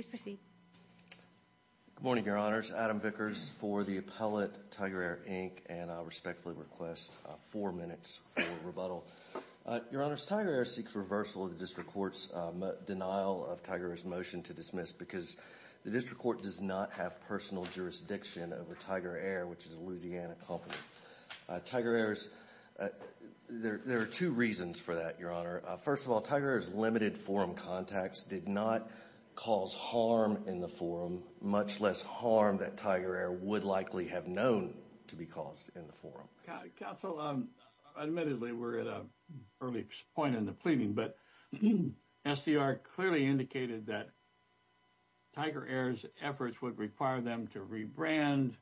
Good morning, Your Honors. Adam Vickers for the appellate, Tigeraire, Inc., and I respectfully request four minutes for rebuttal. Your Honors, Tigeraire seeks reversal of the District Court's denial of Tigeraire's motion to dismiss because the District Court does not have personal jurisdiction over Tigeraire, which is a Louisiana company. Tigeraire's, there are two reasons for that, Your Honor. First of all, Tigeraire's limited forum contacts did not cause harm in the forum, much less harm that Tigeraire would likely have known to be caused in the forum. Counsel, admittedly, we're at an early point in the pleading, but SDR clearly indicated that Tigeraire's efforts would require them to rebrand,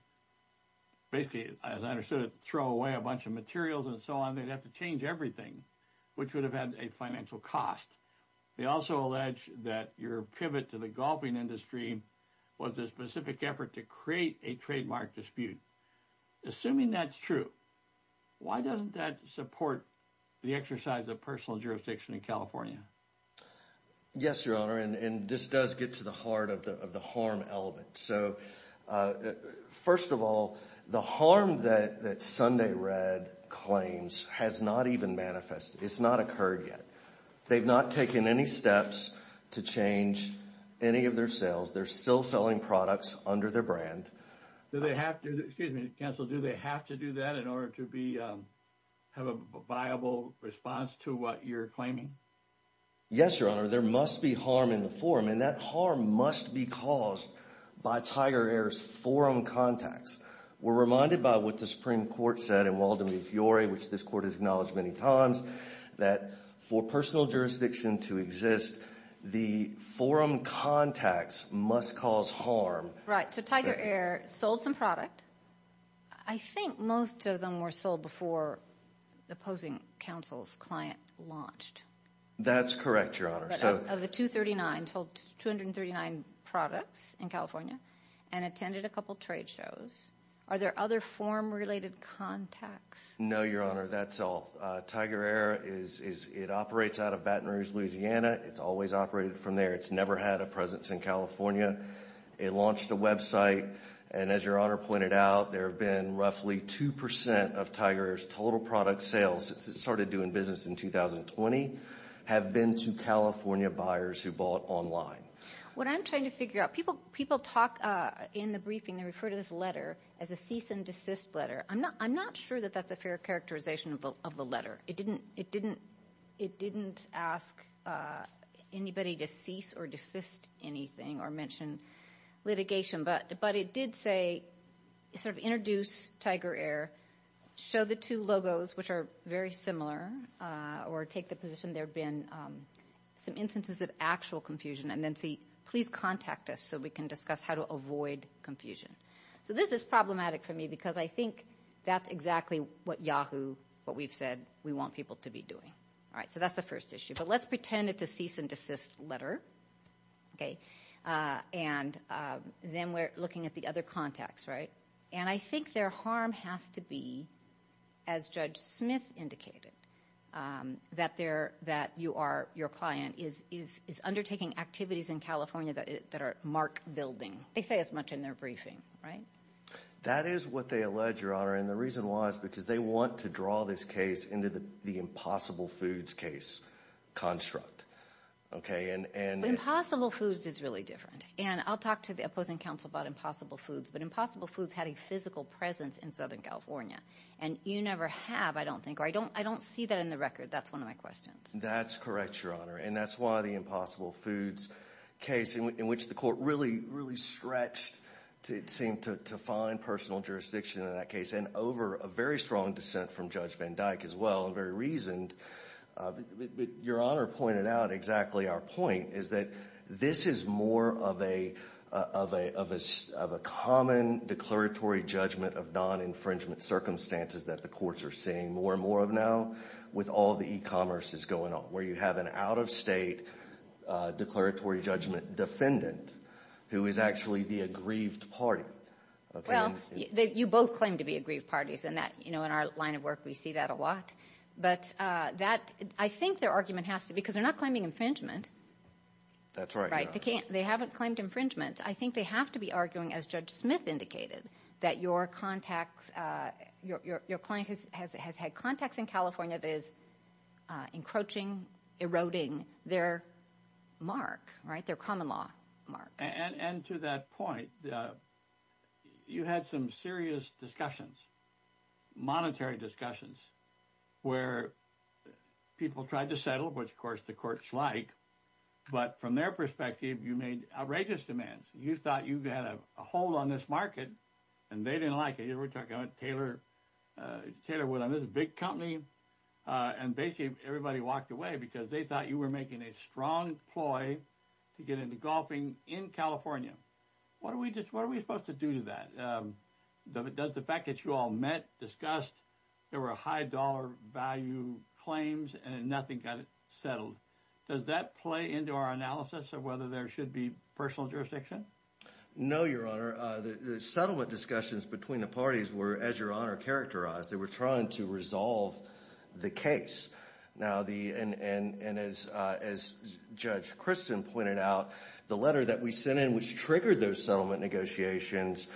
basically, as I understood it, throw away a bunch of materials and so on, they'd have to change everything, which would have had a financial cost. They also allege that your pivot to the golfing industry was a specific effort to create a trademark dispute. Assuming that's true, why doesn't that support the exercise of personal jurisdiction in California? Yes, Your Honor, and this does get to the heart of the harm element. So, first of all, the harm that Sunday Red claims has not even manifested. It's not occurred yet. They've not taken any steps to change any of their sales. They're still selling products under their brand. Do they have to, excuse me, Counsel, do they have to do that in order to be, have a viable response to what you're claiming? Yes, Your Honor, there must be harm in the forum, and that harm must be caused by Tigeraire's forum contacts. We're reminded by what the Supreme Court said in Waldemar Fiore, which this court has acknowledged many times, that for personal jurisdiction to exist, the forum contacts must cause harm. Right, so Tigeraire sold some product. I think most of them were sold before the opposing counsel's client launched. That's correct, Your Honor. Of the 239, sold 239 products in California, and attended a couple trade shows. Are there other forum-related contacts? No, Your Honor, that's all. Tigeraire, it operates out of Baton Rouge, Louisiana. It's always operated from there. It's never had a presence in California. It launched a website, and as Your Honor pointed out, there have been roughly 2% of Tigeraire's total product sales, since it started doing business in 2020, have been to California buyers who bought online. What I'm trying to figure out, people talk in the briefing, they refer to this letter as a cease and desist letter. I'm not sure that that's a fair characterization of the letter. It didn't ask anybody to cease or desist anything, or mention litigation, but it did say, sort of introduce Tigeraire, show the two logos, which are very similar, or take the position there have been some instances of actual confusion, and then say, please contact us so we can discuss how to avoid confusion. This is problematic for me, because I think that's exactly what Yahoo, what we've said, we want people to be doing. That's the first issue. Let's pretend it's a cease and desist letter, and then we're looking at the other contacts. I think their harm has to be, as Judge Smith indicated, that your client is undertaking activities in California that are mark building. They say as much in their briefing, right? That is what they allege, Your Honor, and the reason why is because they want to draw this case into the impossible foods case construct. Impossible foods is really different, and I'll talk to the opposing counsel about impossible foods, but impossible foods had a physical presence in Southern California, and you never have, I don't think, or I don't see that in the record, that's one of my questions. That's correct, Your Honor, and that's why the impossible foods case, in which the court really, really stretched to find personal jurisdiction in that case, and over a very strong dissent from Judge Van Dyke as well, and very reasoned. Your Honor pointed out exactly our point, is that this is more of a common declaratory judgment of non-infringement circumstances that the courts are seeing more and more of now with all the e-commerce that's going on, where you have an out of state declaratory judgment defendant who is actually the aggrieved party. Well, you both claim to be aggrieved parties, and that, you know, in our line of work, we see that a lot, but that, I think their argument has to, because they're not claiming infringement. That's right, Your Honor. They haven't claimed infringement. I think they have to be arguing, as Judge Smith indicated, that your client has had contacts in California that is encroaching, eroding their mark, right, their common law mark. And to that point, you had some serious discussions, monetary discussions, where people tried to settle, which, of course, the courts like, but from their perspective, you made outrageous demands. You thought you had a hold on this market, and they didn't like it. You were talking about Taylor, Taylor Woodham, this big company, and basically everybody walked away because they thought you were making a strong ploy to get into golfing in California. What are we supposed to do to that? Does the fact that you all met, discussed, there were high dollar value claims, and nothing got settled, does that play into our analysis of whether there should be personal jurisdiction? No, Your Honor. The settlement discussions between the parties were, as Your Honor characterized, they were trying to resolve the case. And as Judge Christen pointed out, the letter that we sent in, which triggered those settlement negotiations,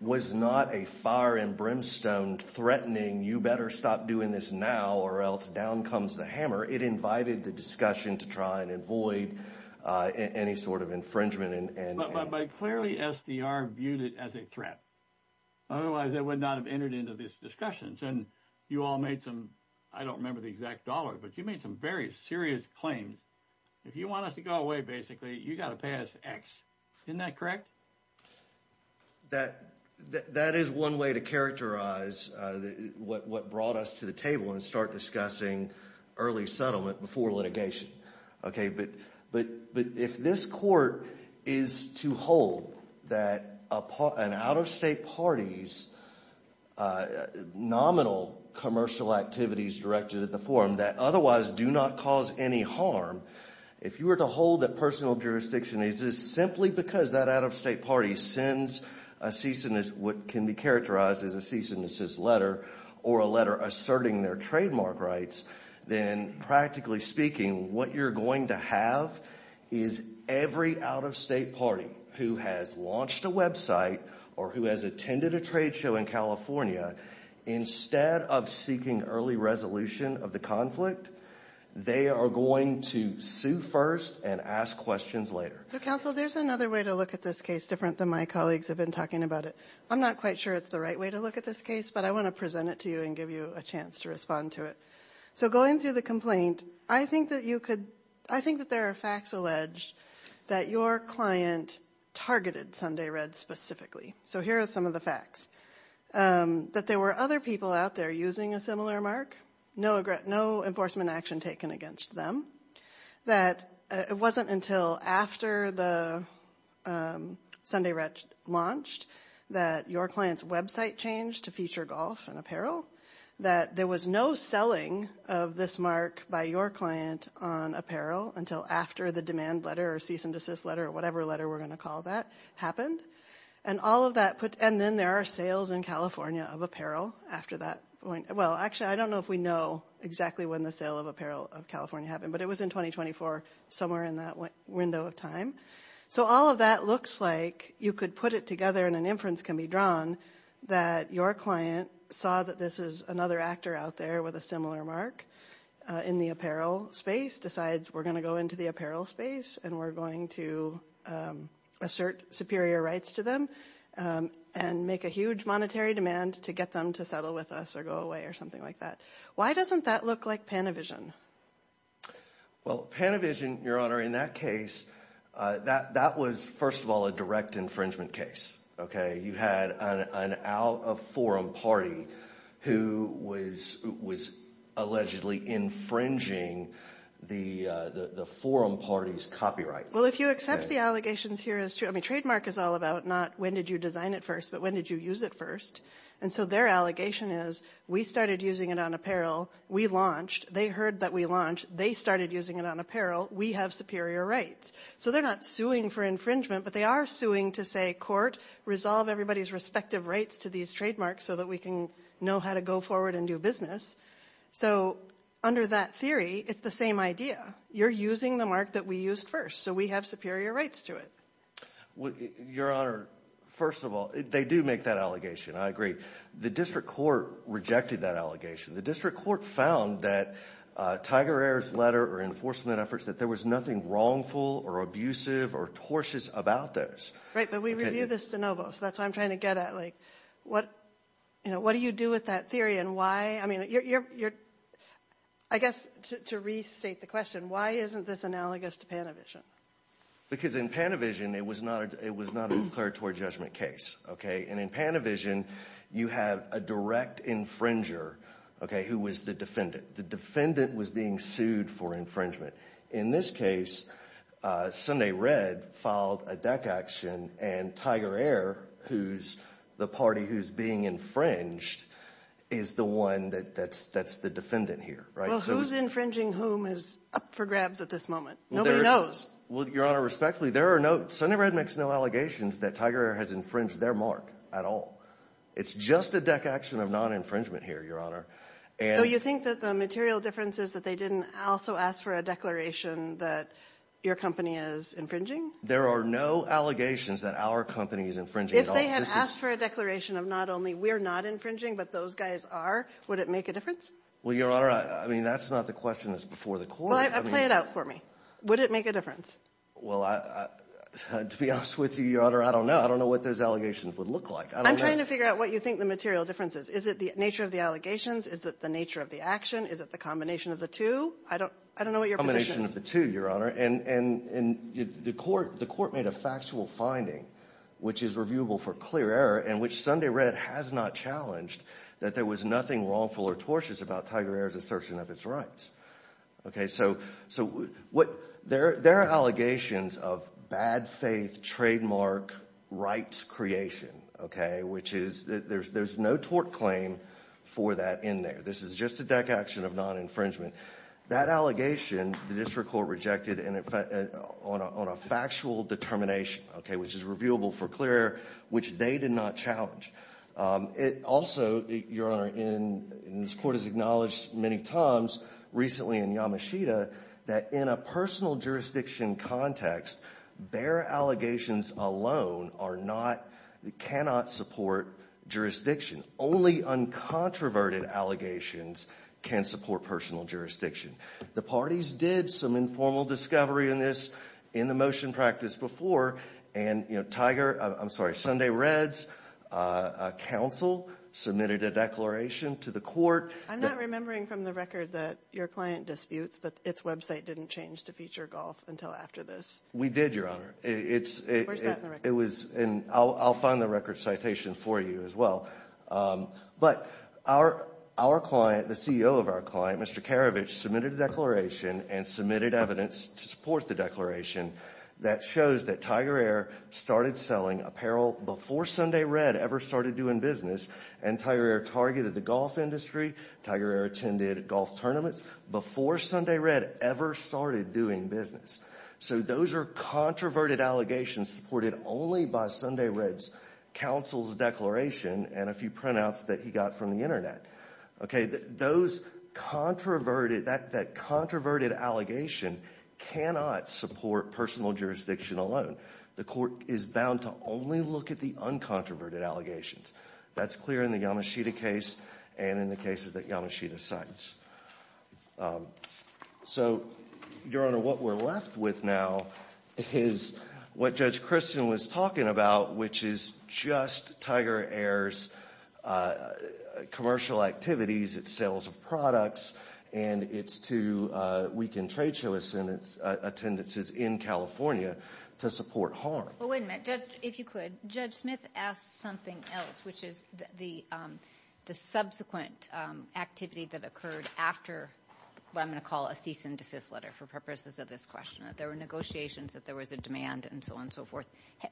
was not a fire and brimstone threatening, you better stop doing this now or else down comes the hammer. It invited the discussion to try and avoid any sort of infringement. But clearly SDR viewed it as a threat, otherwise they would not have entered into these discussions. And you all made some, I don't remember the exact dollar, but you made some very serious claims. If you want us to go away, basically, you got to pass X, isn't that correct? That is one way to characterize what brought us to the table and start discussing early settlement before litigation. Okay, but if this court is to hold that an out-of-state party's nominal commercial activities directed at the forum that otherwise do not cause any harm, if you were to hold that personal jurisdiction is simply because that out-of-state party sends a cease and desist, what can be characterized as a cease and desist letter, or a letter asserting their trademark rights, then practically speaking, what you're going to have is every out-of-state party who has launched a website or who has attended a trade show in California, instead of seeking early resolution of the conflict, they are going to sue first and ask questions later. So, counsel, there's another way to look at this case different than my colleagues have been talking about it. I'm not quite sure it's the right way to look at this case, but I want to present it to you and give you a chance to respond to it. So going through the complaint, I think that there are facts alleged that your client targeted Sunday Red specifically. So here are some of the facts. That there were other people out there using a similar mark, no enforcement action taken against them, that it wasn't until after the Sunday Red launched that your client's website changed to feature golf and apparel, that there was no selling of this mark by your client on apparel until after the demand letter or cease and desist letter or whatever letter we're going to call that happened. And then there are sales in California of apparel after that point. Well, actually, I don't know if we know exactly when the sale of apparel of California happened, but it was in 2024, somewhere in that window of time. So all of that looks like you could put it together and an inference can be drawn that your client saw that this is another actor out there with a similar mark in the apparel space, decides we're going to go into the apparel space and we're going to assert superior rights to them and make a huge monetary demand to get them to settle with us or go away or something like that. Why doesn't that look like Panavision? Well, Panavision, Your Honor, in that case, that was, first of all, a direct infringement case. Okay? You had an out-of-forum party who was allegedly infringing the forum party's copyrights. Well, if you accept the allegations here as true, I mean, trademark is all about not when did you design it first, but when did you use it first. And so their allegation is, we started using it on apparel. We launched. They heard that we launched. They started using it on apparel. We have superior rights. So they're not suing for infringement, but they are suing to say, court, resolve everybody's respective rights to these trademarks so that we can know how to go forward and do business. So under that theory, it's the same idea. You're using the mark that we used first. So we have superior rights to it. Your Honor, first of all, they do make that allegation. I agree. The district court rejected that allegation. The district court found that Tiger Air's letter or enforcement efforts, that there was nothing wrongful or abusive or tortious about those. Right, but we review this de novo, so that's what I'm trying to get at. What do you do with that theory and why? I guess, to restate the question, why isn't this analogous to Panavision? Because in Panavision, it was not a declaratory judgment case, and in Panavision you have a direct infringer who was the defendant. The defendant was being sued for infringement. In this case, Sunday Red filed a deck action, and Tiger Air, who's the party who's being infringed, is the one that's the defendant here. Well, who's infringing whom is up for grabs at this moment? Nobody knows. Well, Your Honor, respectfully, Sunday Red makes no allegations that Tiger Air has infringed their mark at all. It's just a deck action of non-infringement here, Your Honor. You think that the material difference is that they didn't also ask for a declaration that your company is infringing? There are no allegations that our company is infringing at all. If they had asked for a declaration of not only we're not infringing but those guys are, would it make a difference? Well, Your Honor, I mean, that's not the question that's before the court. Well, play it out for me. Would it make a difference? Well, to be honest with you, Your Honor, I don't know. I don't know what those allegations would look like. I'm trying to figure out what you think the material difference is. Is it the nature of the allegations? Is it the nature of the action? Is it the combination of the two? I don't know what your position is. The combination of the two, Your Honor. And the court made a factual finding, which is reviewable for clear error, in which Sunday Red has not challenged that there was nothing wrongful or tortious about Tiger Air's assertion of its rights, okay? So there are allegations of bad faith trademark rights creation, okay, which is there's no tort claim for that in there. This is just a deck action of non-infringement. That allegation, the district court rejected on a factual determination, okay, which is reviewable for clear error, which they did not challenge. It also, Your Honor, and this court has acknowledged many times recently in Yamashita, that in a personal jurisdiction context, bare allegations alone are not, cannot support jurisdiction. Only uncontroverted allegations can support personal jurisdiction. The parties did some informal discovery in this, in the motion practice before, and Tiger, I'm sorry, Sunday Red's counsel submitted a declaration to the court. I'm not remembering from the record that your client disputes that its website didn't change to feature golf until after this. We did, Your Honor. Where's that in the record? It was in, I'll find the record citation for you as well. But our client, the CEO of our client, Mr. Karavich, submitted a declaration and submitted evidence to support the declaration that shows that Tiger Air started selling apparel before Sunday Red ever started doing business. And Tiger Air targeted the golf industry, Tiger Air attended golf tournaments before Sunday Red ever started doing business. So those are controverted allegations supported only by Sunday Red's counsel's declaration and a few printouts that he got from the internet, okay. Those controverted, that controverted allegation cannot support personal jurisdiction alone. The court is bound to only look at the uncontroverted allegations. That's clear in the Yamashita case and in the cases that Yamashita cites. So Your Honor, what we're left with now is what Judge Christian was talking about, which is just Tiger Air's commercial activities, its sales of products, and its two weekend trade shows and its attendances in California to support harm. Well, wait a minute. Judge, if you could, Judge Smith asked something else, which is the subsequent activity that occurred after what I'm going to call a cease and desist letter for purposes of this question, that there were negotiations, that there was a demand, and so on and so forth.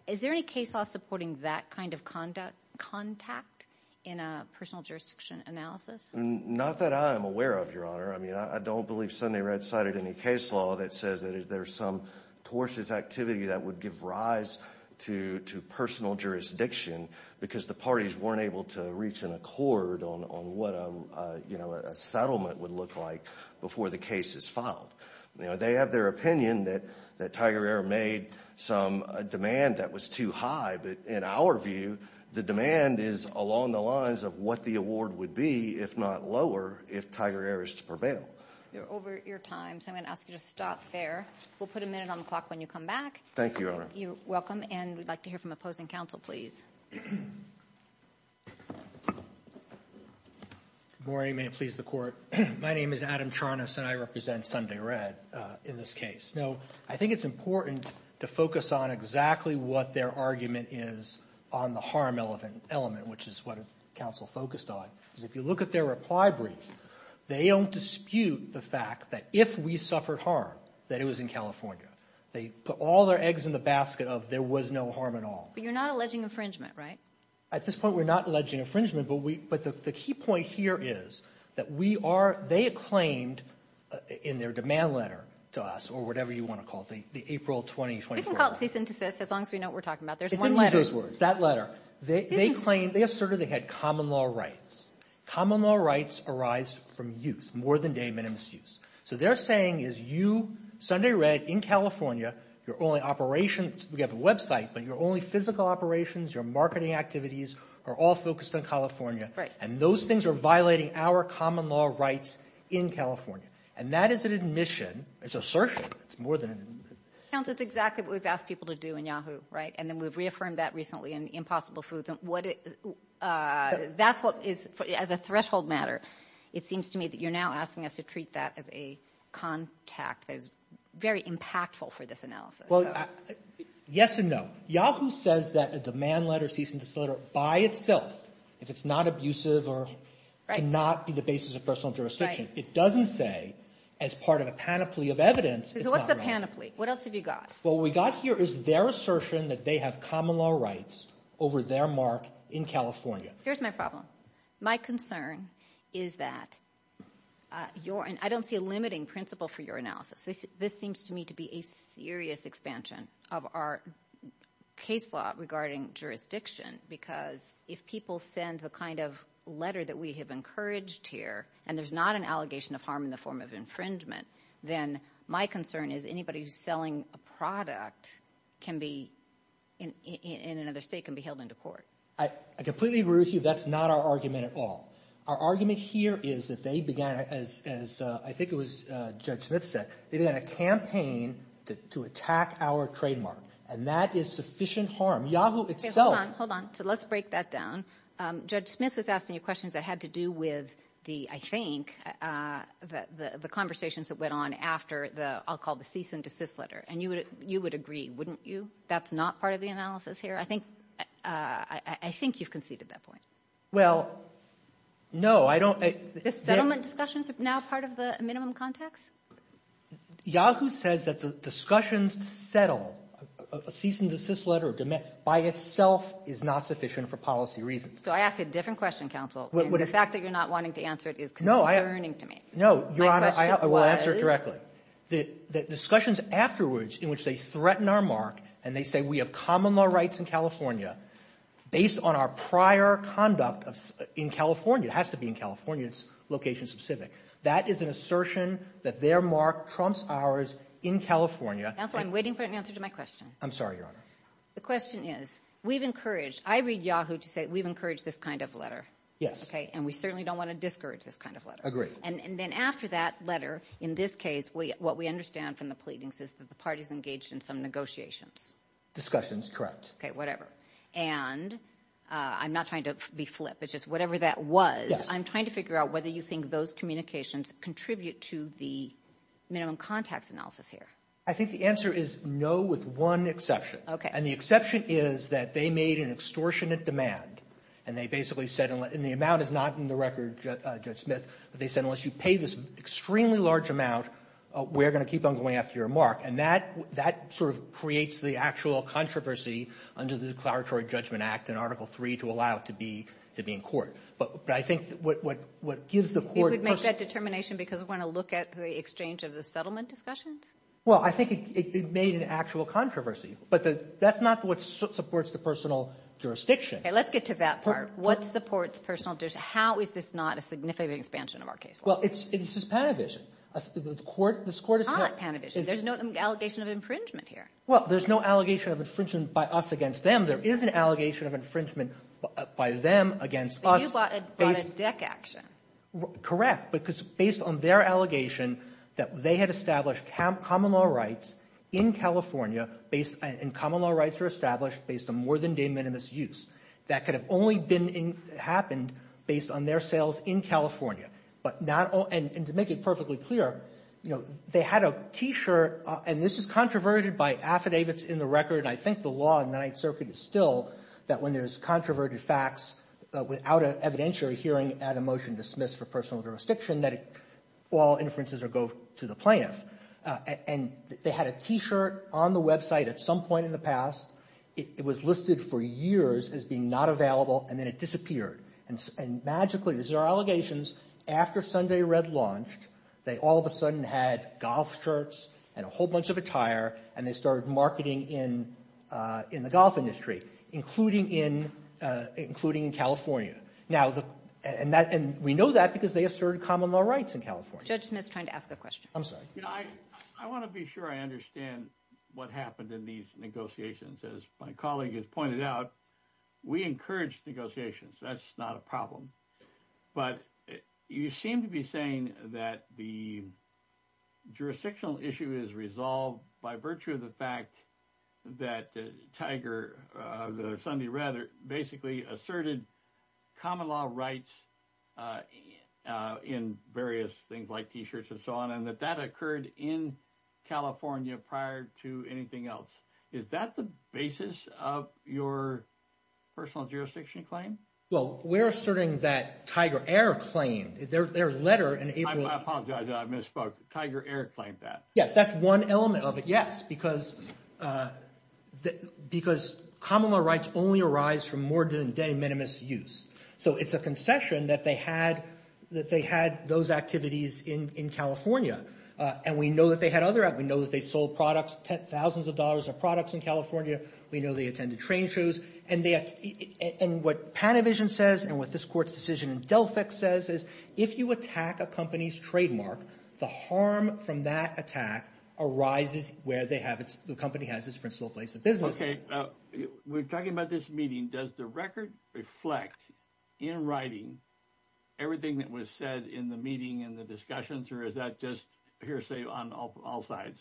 Is there any case law supporting that kind of contact in a personal jurisdiction analysis? Not that I am aware of, Your Honor. I mean, I don't believe Sunday Red cited any case law that says that there's some tortuous activity that would give rise to personal jurisdiction because the parties weren't able to reach an accord on what a settlement would look like before the case is filed. They have their opinion that Tiger Air made a demand that was too high, but in our view, the demand is along the lines of what the award would be, if not lower, if Tiger Air is to prevail. You're over your time, so I'm going to ask you to stop there. We'll put a minute on the clock when you come back. Thank you, Your Honor. You're welcome. And we'd like to hear from opposing counsel, please. Good morning, may it please the Court. My name is Adam Charnas, and I represent Sunday Red in this case. Now, I think it's important to focus on exactly what their argument is on the harm element, which is what counsel focused on, because if you look at their reply brief, they don't dispute the fact that if we suffered harm, that it was in California. They put all their eggs in the basket of there was no harm at all. But you're not alleging infringement, right? At this point, we're not alleging infringement, but the key point here is that we are, they claimed in their demand letter to us, or whatever you want to call it, the April 20, 24 letter. We can call it c-synthesis as long as we know what we're talking about. There's one letter. It's in each of those words, that letter. They claimed, they asserted they had common law rights. Common law rights arise from use, more than day, minimum use. So they're saying is you, Sunday Red, in California, your only operations, we have a website, but your only physical operations, your marketing activities are all focused on California. Right. And those things are violating our common law rights in California. And that is an admission, it's assertion, it's more than an admission. Counsel, it's exactly what we've asked people to do in YAHOO!, right? And then we've reaffirmed that recently in Impossible Foods, and what it, that's what is, as a threshold matter, it seems to me that you're now asking us to treat that as a contact that is very impactful for this analysis. Well, yes or no. YAHOO! says that a demand letter, cease and desist letter, by itself, if it's not abusive or cannot be the basis of personal jurisdiction, it doesn't say, as part of a panoply of evidence, it's not relevant. So what's the panoply? What else have you got? What we got here is their assertion that they have common law rights over their mark in California. Here's my problem. My concern is that your, and I don't see a limiting principle for your analysis. This seems to me to be a serious expansion of our case law regarding jurisdiction, because if people send the kind of letter that we have encouraged here, and there's not an allegation of harm in the form of infringement, then my concern is anybody who's selling a product can be, in another state, can be held into court. I completely agree with you. That's not our argument at all. Our argument here is that they began, as I think it was Judge Smith said, they began a campaign to attack our trademark, and that is sufficient harm. YAHOO! itself... Hold on. Hold on. So let's break that down. Judge Smith was asking you questions that had to do with the, I think, the conversations that went on after the, I'll call it the cease and desist letter, and you would agree, wouldn't you? That's not part of the analysis here? I think, I think you've conceded that point. Well, no, I don't... The settlement discussions are now part of the minimum contacts? YAHOO! says that the discussions to settle a cease and desist letter by itself is not sufficient for policy reasons. So I ask a different question, counsel, and the fact that you're not wanting to answer it is concerning to me. No. Your Honor, I will answer it directly. My question was... The discussions afterwards, in which they threaten our mark, and they say we have common law rights in California, based on our prior conduct in California, it has to be in California, it's location specific. That is an assertion that their mark trumps ours in California. Counsel, I'm waiting for an answer to my question. I'm sorry, Your Honor. The question is, we've encouraged, I read YAHOO! to say, we've encouraged this kind of letter. Yes. Okay? And we certainly don't want to discourage this kind of letter. Agreed. And then after that letter, in this case, what we understand from the pleadings is that the parties engaged in some negotiations. Discussions. Correct. Okay. Whatever. And I'm not trying to be flip. It's just whatever that was. Yes. I'm trying to figure out whether you think those communications contribute to the minimum contacts analysis here. I think the answer is no, with one exception. And the exception is that they made an extortionate demand, and they basically said, and the amount is not in the record, Judge Smith, but they said, unless you pay this extremely large amount, we're going to keep on going after your mark. And that, that sort of creates the actual controversy under the Declaratory Judgment Act and Article 3 to allow it to be, to be in court. But I think what, what, what gives the court. You would make that determination because we want to look at the exchange of the settlement discussions? Well, I think it made an actual controversy, but that's not what supports the personal jurisdiction. Okay. Let's get to that part. What supports personal jurisdiction? How is this not a significant expansion of our case law? Well, it's, it's just Panavision. The court, this court is. Not Panavision. There's no. There's no allegation of infringement here. Well, there's no allegation of infringement by us against them. There is an allegation of infringement by them against us. But you bought a, bought a deck action. Correct. Because based on their allegation that they had established common law rights in California based, and common law rights are established based on more than de minimis use. That could have only been, happened based on their sales in California. But not all, and to make it perfectly clear, you know, they had a T-shirt, and this is controverted by affidavits in the record. I think the law in the Ninth Circuit is still that when there's controverted facts without an evidentiary hearing and a motion dismissed for personal jurisdiction, that all inferences are go to the plaintiff. And they had a T-shirt on the website at some point in the past. It was listed for years as being not available, and then it disappeared. And magically, these are allegations after Sunday Red launched, they all of a sudden had golf shirts and a whole bunch of attire, and they started marketing in, in the golf industry, including in, including in California. Now, and that, and we know that because they asserted common law rights in California. Judge Smith's trying to ask a question. I'm sorry. You know, I, I want to be sure I understand what happened in these negotiations. As my colleague has pointed out, we encouraged negotiations. That's not a problem. But you seem to be saying that the jurisdictional issue is resolved by virtue of the fact that Tiger, the Sunday Red, basically asserted common law rights in various things like T-shirts and so on, and that that occurred in California prior to anything else. Is that the basis of your personal jurisdiction claim? Well, we're asserting that Tiger Eric claimed. Their letter in April. I apologize. I misspoke. Tiger Eric claimed that. Yes. That's one element of it. Yes. Because, because common law rights only arise from more than de minimis use. So it's a concession that they had, that they had those activities in, in California. And we know that they had other, we know that they sold products, tens, thousands of dollars of products in California. We know they attended train shows. And they, and what Panavision says, and what this court's decision in Delphic says is, if you attack a company's trademark, the harm from that attack arises where they have its, the company has its principal place of business. Okay. We're talking about this meeting. Does the record reflect, in writing, everything that was said in the meeting and the discussions or is that just hearsay on all sides?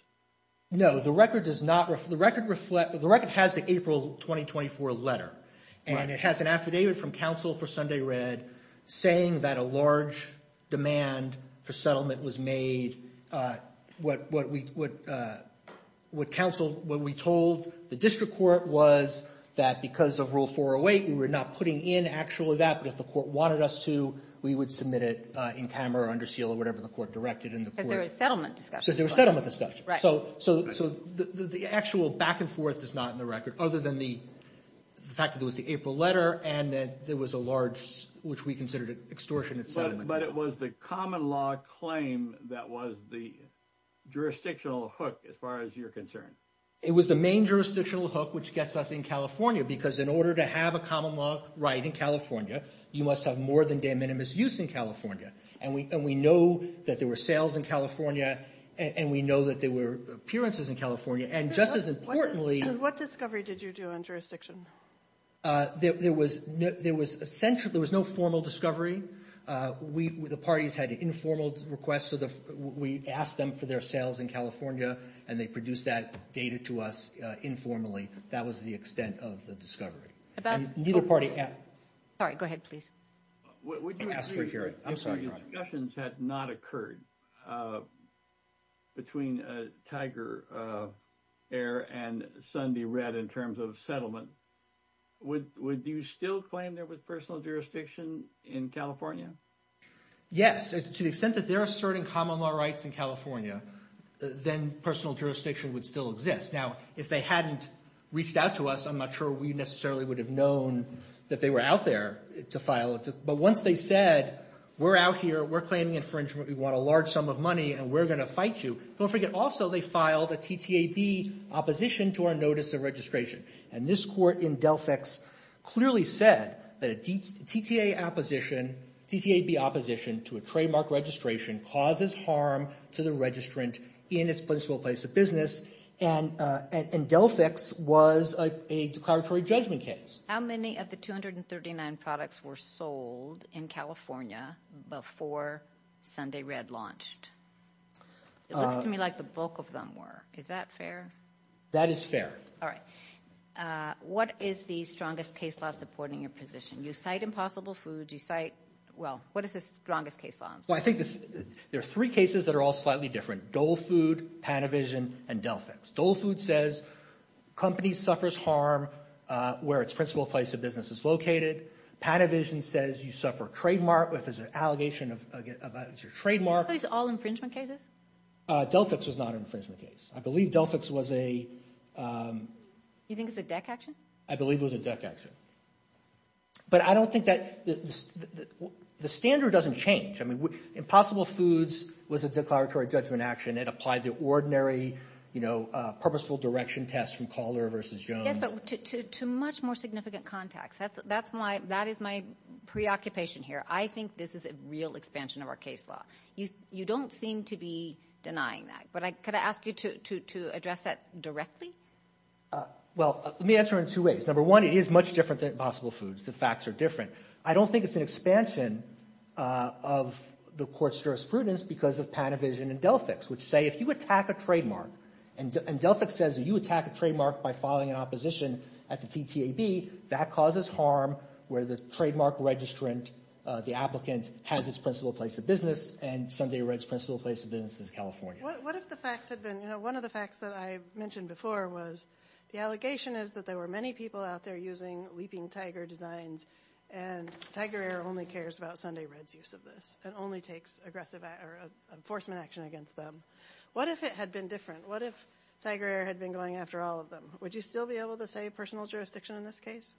No. The record does not, the record reflect, the record has the April 2024 letter. Right. And it has an affidavit from counsel for Sunday Red saying that a large demand for settlement was made, what, what we, what, what counsel, what we told the district court was that because of Rule 408, we were not putting in actually that, but if the court wanted us to, we would submit it in camera or under seal or whatever the court directed in the court. Because there were settlement discussions. Because there were settlement discussions. Right. So, so, so the, the actual back and forth is not in the record other than the fact that it was the April letter and that there was a large, which we considered an extortion of settlement. But it was the common law claim that was the jurisdictional hook as far as you're concerned. It was the main jurisdictional hook which gets us in California because in order to have a common law right in California, you must have more than de minimis use in California. And we, and we know that there were sales in California, and we know that there were appearances in California. And just as importantly What, what discovery did you do on jurisdiction? There, there was, there was essentially, there was no formal discovery. We, the parties had informal requests, so the, we asked them for their sales in California and they produced that data to us informally. That was the extent of the discovery. About And neither party Sorry, go ahead, please. Would you I'm sorry to hear it. I'm sorry, go ahead. If discussions had not occurred between Tiger Air and Sundy Red in terms of settlement, would, would you still claim there was personal jurisdiction in California? Yes, to the extent that they're asserting common law rights in California, then personal jurisdiction would still exist. Now, if they hadn't reached out to us, I'm not sure we necessarily would have known that they were out there to file, but once they said, we're out here, we're claiming infringement, we want a large sum of money, and we're going to fight you, don't forget also they filed a TTAB opposition to our notice of registration. And this court in Delphix clearly said that a TTA opposition, TTAB opposition to a trademark registration causes harm to the registrant in its principal place of business, and, and Delphix was a declaratory judgment case. How many of the 239 products were sold in California before Sundy Red launched? It looks to me like the bulk of them were. Is that fair? That is fair. All right. What is the strongest case law supporting your position? You cite Impossible Foods, you cite, well, what is the strongest case law? Well, I think there are three cases that are all slightly different. Dole Food, Panavision, and Delphix. Dole Food says companies suffers harm where its principal place of business is located. Panavision says you suffer trademark, if there's an allegation of, of, it's your trademark. Are Delphix all infringement cases? Delphix was not an infringement case. I believe Delphix was a. You think it's a DEC action? I believe it was a DEC action. But I don't think that, the, the standard doesn't change. I mean, Impossible Foods was a declaratory judgment action. And it applied the ordinary, you know, purposeful direction test from Caller versus Jones. Yes, but to, to, to much more significant context. That's, that's why, that is my preoccupation here. I think this is a real expansion of our case law. You don't seem to be denying that. But I, could I ask you to, to, to address that directly? Well, let me answer it in two ways. Number one, it is much different than Impossible Foods. The facts are different. I don't think it's an expansion of the court's jurisprudence because of Panavision and Delphix, which say, if you attack a trademark, and Delphix says, you attack a trademark by filing an opposition at the TTAB, that causes harm where the trademark registrant, the applicant, has its principal place of business, and Sunday Red's principal place of business is California. What, what if the facts had been, you know, one of the facts that I mentioned before was, the allegation is that there were many people out there using Leaping Tiger designs, and Tiger Air only cares about Sunday Red's use of this, and only takes aggressive, or enforcement action against them. What if it had been different? What if Tiger Air had been going after all of them? Would you still be able to say personal jurisdiction in this case?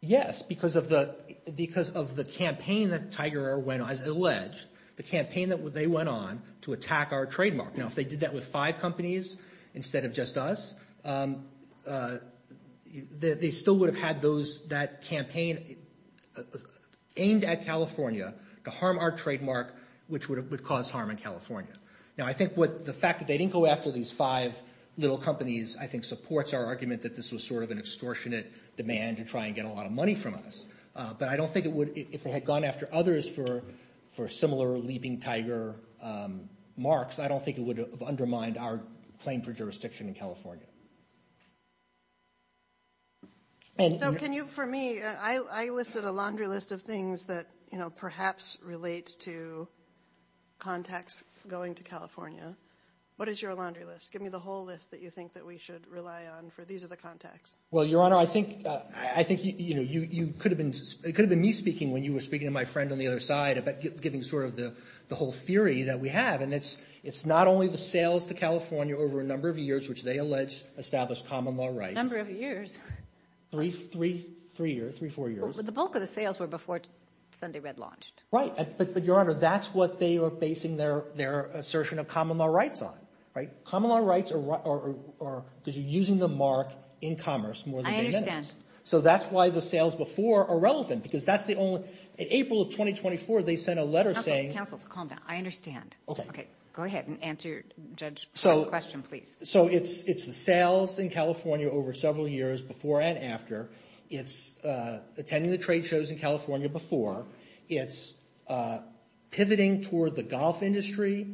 Yes, because of the, because of the campaign that Tiger Air went on, as alleged, the campaign that they went on to attack our trademark. Now, if they did that with five companies instead of just us, they still would have had those, that campaign aimed at California to harm our trademark, which would have, would cause harm in California. Now, I think what, the fact that they didn't go after these five little companies, I think supports our argument that this was sort of an extortionate demand to try and get a lot of money from us, but I don't think it would, if they had gone after others for, for similar Leaping Tiger marks, I don't think it would have undermined our claim for jurisdiction in California, and. So can you, for me, I, I listed a laundry list of things that, you know, perhaps relate to contacts going to California. What is your laundry list? Give me the whole list that you think that we should rely on for, these are the contacts. Well, Your Honor, I think, I think, you know, you, you could have been, it could have been me speaking when you were speaking to my friend on the other side about giving sort of the, the whole theory that we have, and it's, it's not only the sales to California over a number of years, which they allege established common law rights. Number of years? Three, three, three years, three, four years. But the bulk of the sales were before Sunday Red launched. Right, but, but, Your Honor, that's what they are basing their, their assertion of common law rights on, right? Common law rights are, are, are, are, because you're using the mark in commerce more than they I understand. So that's why the sales before are relevant, because that's the only, in April of 2024, they sent a letter saying. Counsel, counsel, calm down, I understand. Okay. Okay, go ahead and answer your judge's question, please. So it's, it's the sales in California over several years, before and after. It's attending the trade shows in California before. It's pivoting toward the golf industry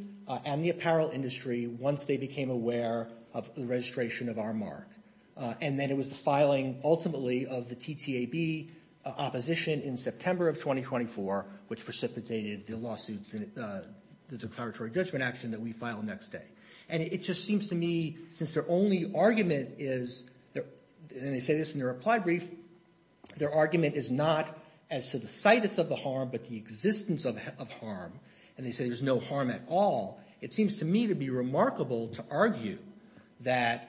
and the apparel industry once they became aware of the registration of our mark. And then it was the filing, ultimately, of the TTAB opposition in September of 2024, which precipitated the lawsuit, the declaratory judgment action that we file next day. And it just seems to me, since their only argument is, and they say this in their reply brief, their argument is not as to the situs of the harm, but the existence of harm. And they say there's no harm at all. It seems to me to be remarkable to argue that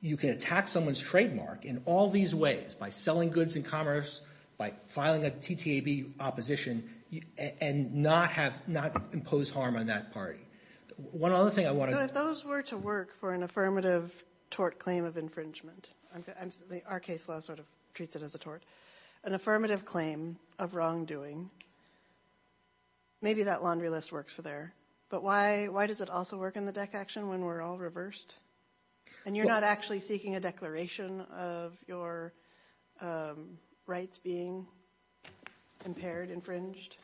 you can attack someone's trademark in all these ways, by selling goods in commerce, by filing a TTAB opposition, and not have, not impose harm on that party. One other thing I want to... So if those were to work for an affirmative tort claim of infringement, our case law sort of treats it as a tort, an affirmative claim of wrongdoing, maybe that laundry list works for there. But why, why does it also work in the DEC action when we're all reversed? And you're not actually seeking a declaration of your rights being impaired, infringed?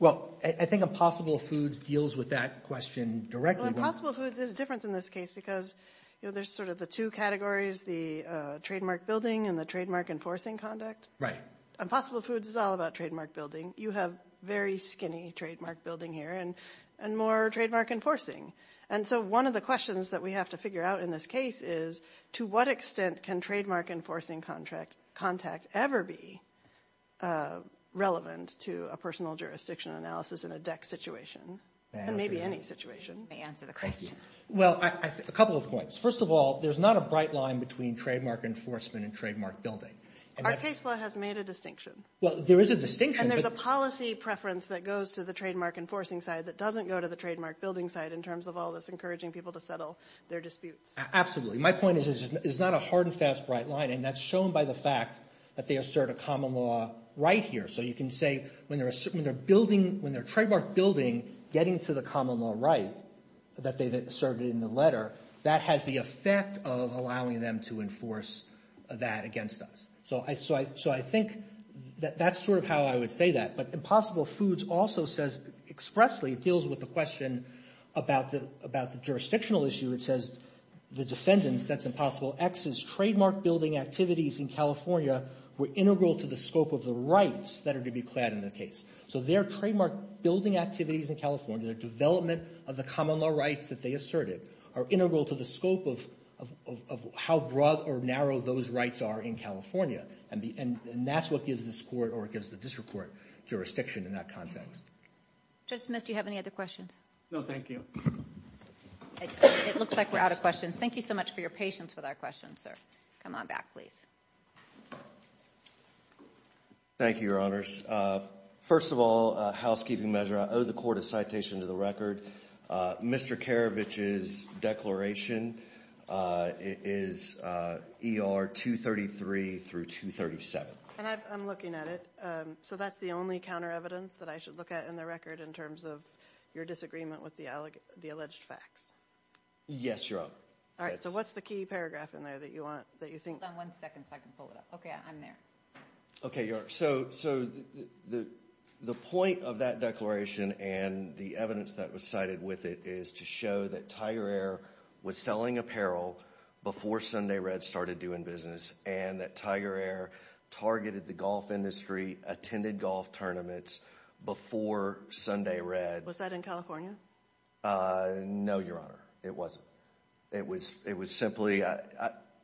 Well, I think Impossible Foods deals with that question directly. Well, Impossible Foods is different in this case because, you know, there's sort of the two categories, the trademark building and the trademark enforcing conduct. Right. Impossible Foods is all about trademark building. You have very skinny trademark building here, and more trademark enforcing. And so one of the questions that we have to figure out in this case is, to what extent can trademark enforcing contact ever be relevant to a personal jurisdiction analysis in a DEC situation? And maybe any situation. May answer the question. Well, a couple of points. First of all, there's not a bright line between trademark enforcement and trademark building. Our case law has made a distinction. Well, there is a distinction. And there's a policy preference that goes to the trademark enforcing side that doesn't go to the trademark building side in terms of all this encouraging people to settle their disputes. Absolutely. My point is, there's not a hard and fast bright line. And that's shown by the fact that they assert a common law right here. So you can say, when they're building, when they're trademark building, getting to the common law right that they've asserted in the letter, that has the effect of allowing them to enforce that against us. So I think that's sort of how I would say that. But Impossible Foods also says expressly, it deals with the question about the jurisdictional issue. Where it says, the defendants, that's impossible. X's trademark building activities in California were integral to the scope of the rights that are to be clad in the case. So their trademark building activities in California, their development of the common law rights that they asserted, are integral to the scope of how broad or narrow those rights are in California. And that's what gives this court, or it gives the district court, jurisdiction in that context. Judge Smith, do you have any other questions? No, thank you. It looks like we're out of questions. Thank you so much for your patience with our questions, sir. Come on back, please. Thank you, your honors. First of all, a housekeeping measure. I owe the court a citation to the record. Mr. Karavich's declaration is ER 233 through 237. And I'm looking at it. So that's the only counter evidence that I should look at in the record in terms of your disagreement with the alleged facts? Yes, your honor. All right, so what's the key paragraph in there that you want, that you think- Hold on one second so I can pull it up. Okay, I'm there. Okay, so the point of that declaration and the evidence that was cited with it is to show that Tiger Air was selling apparel before Sunday Red started doing business, and that Tiger Air targeted the golf industry, attended golf tournaments before Sunday Red- Was that in California? No, your honor. It wasn't. It was simply,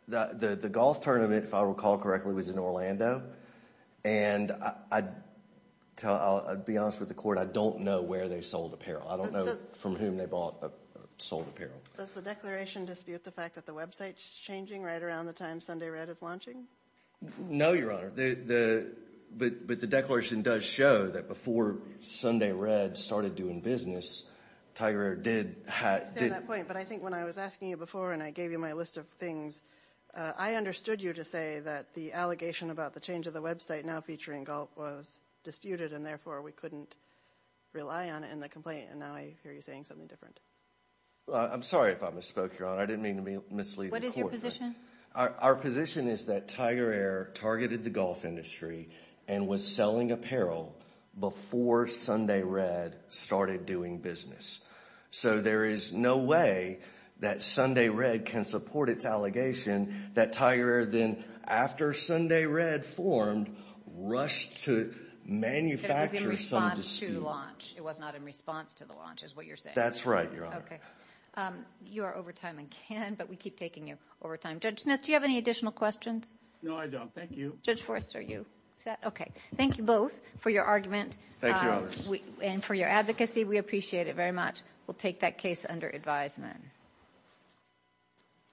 the golf tournament, if I recall correctly, was in Orlando. And I'll be honest with the court, I don't know where they sold apparel. I don't know from whom they bought or sold apparel. Does the declaration dispute the fact that the website's changing right around the time Sunday Red is launching? No, your honor. But the declaration does show that before Sunday Red started doing business, Tiger Air did- I understand that point, but I think when I was asking you before and I gave you my list of things, I understood you to say that the allegation about the change of the website now featuring golf was disputed, and therefore we couldn't rely on it in the complaint, and now I hear you saying something different. I'm sorry if I misspoke, your honor. I didn't mean to mislead the court. What is your position? Our position is that Tiger Air targeted the golf industry and was selling apparel before Sunday Red started doing business. So there is no way that Sunday Red can support its allegation that Tiger Air then, after Sunday Red formed, rushed to manufacture some dispute. But it was in response to launch. It was not in response to the launch is what you're saying. That's right, your honor. Okay. You are over time again, but we keep taking you over time. Judge Smith, do you have any additional questions? No, I don't. Thank you. Judge Forrest, are you set? Okay. Thank you both for your argument. Thank you, your honor. And for your advocacy. We appreciate it very much. We'll take that case under advisement.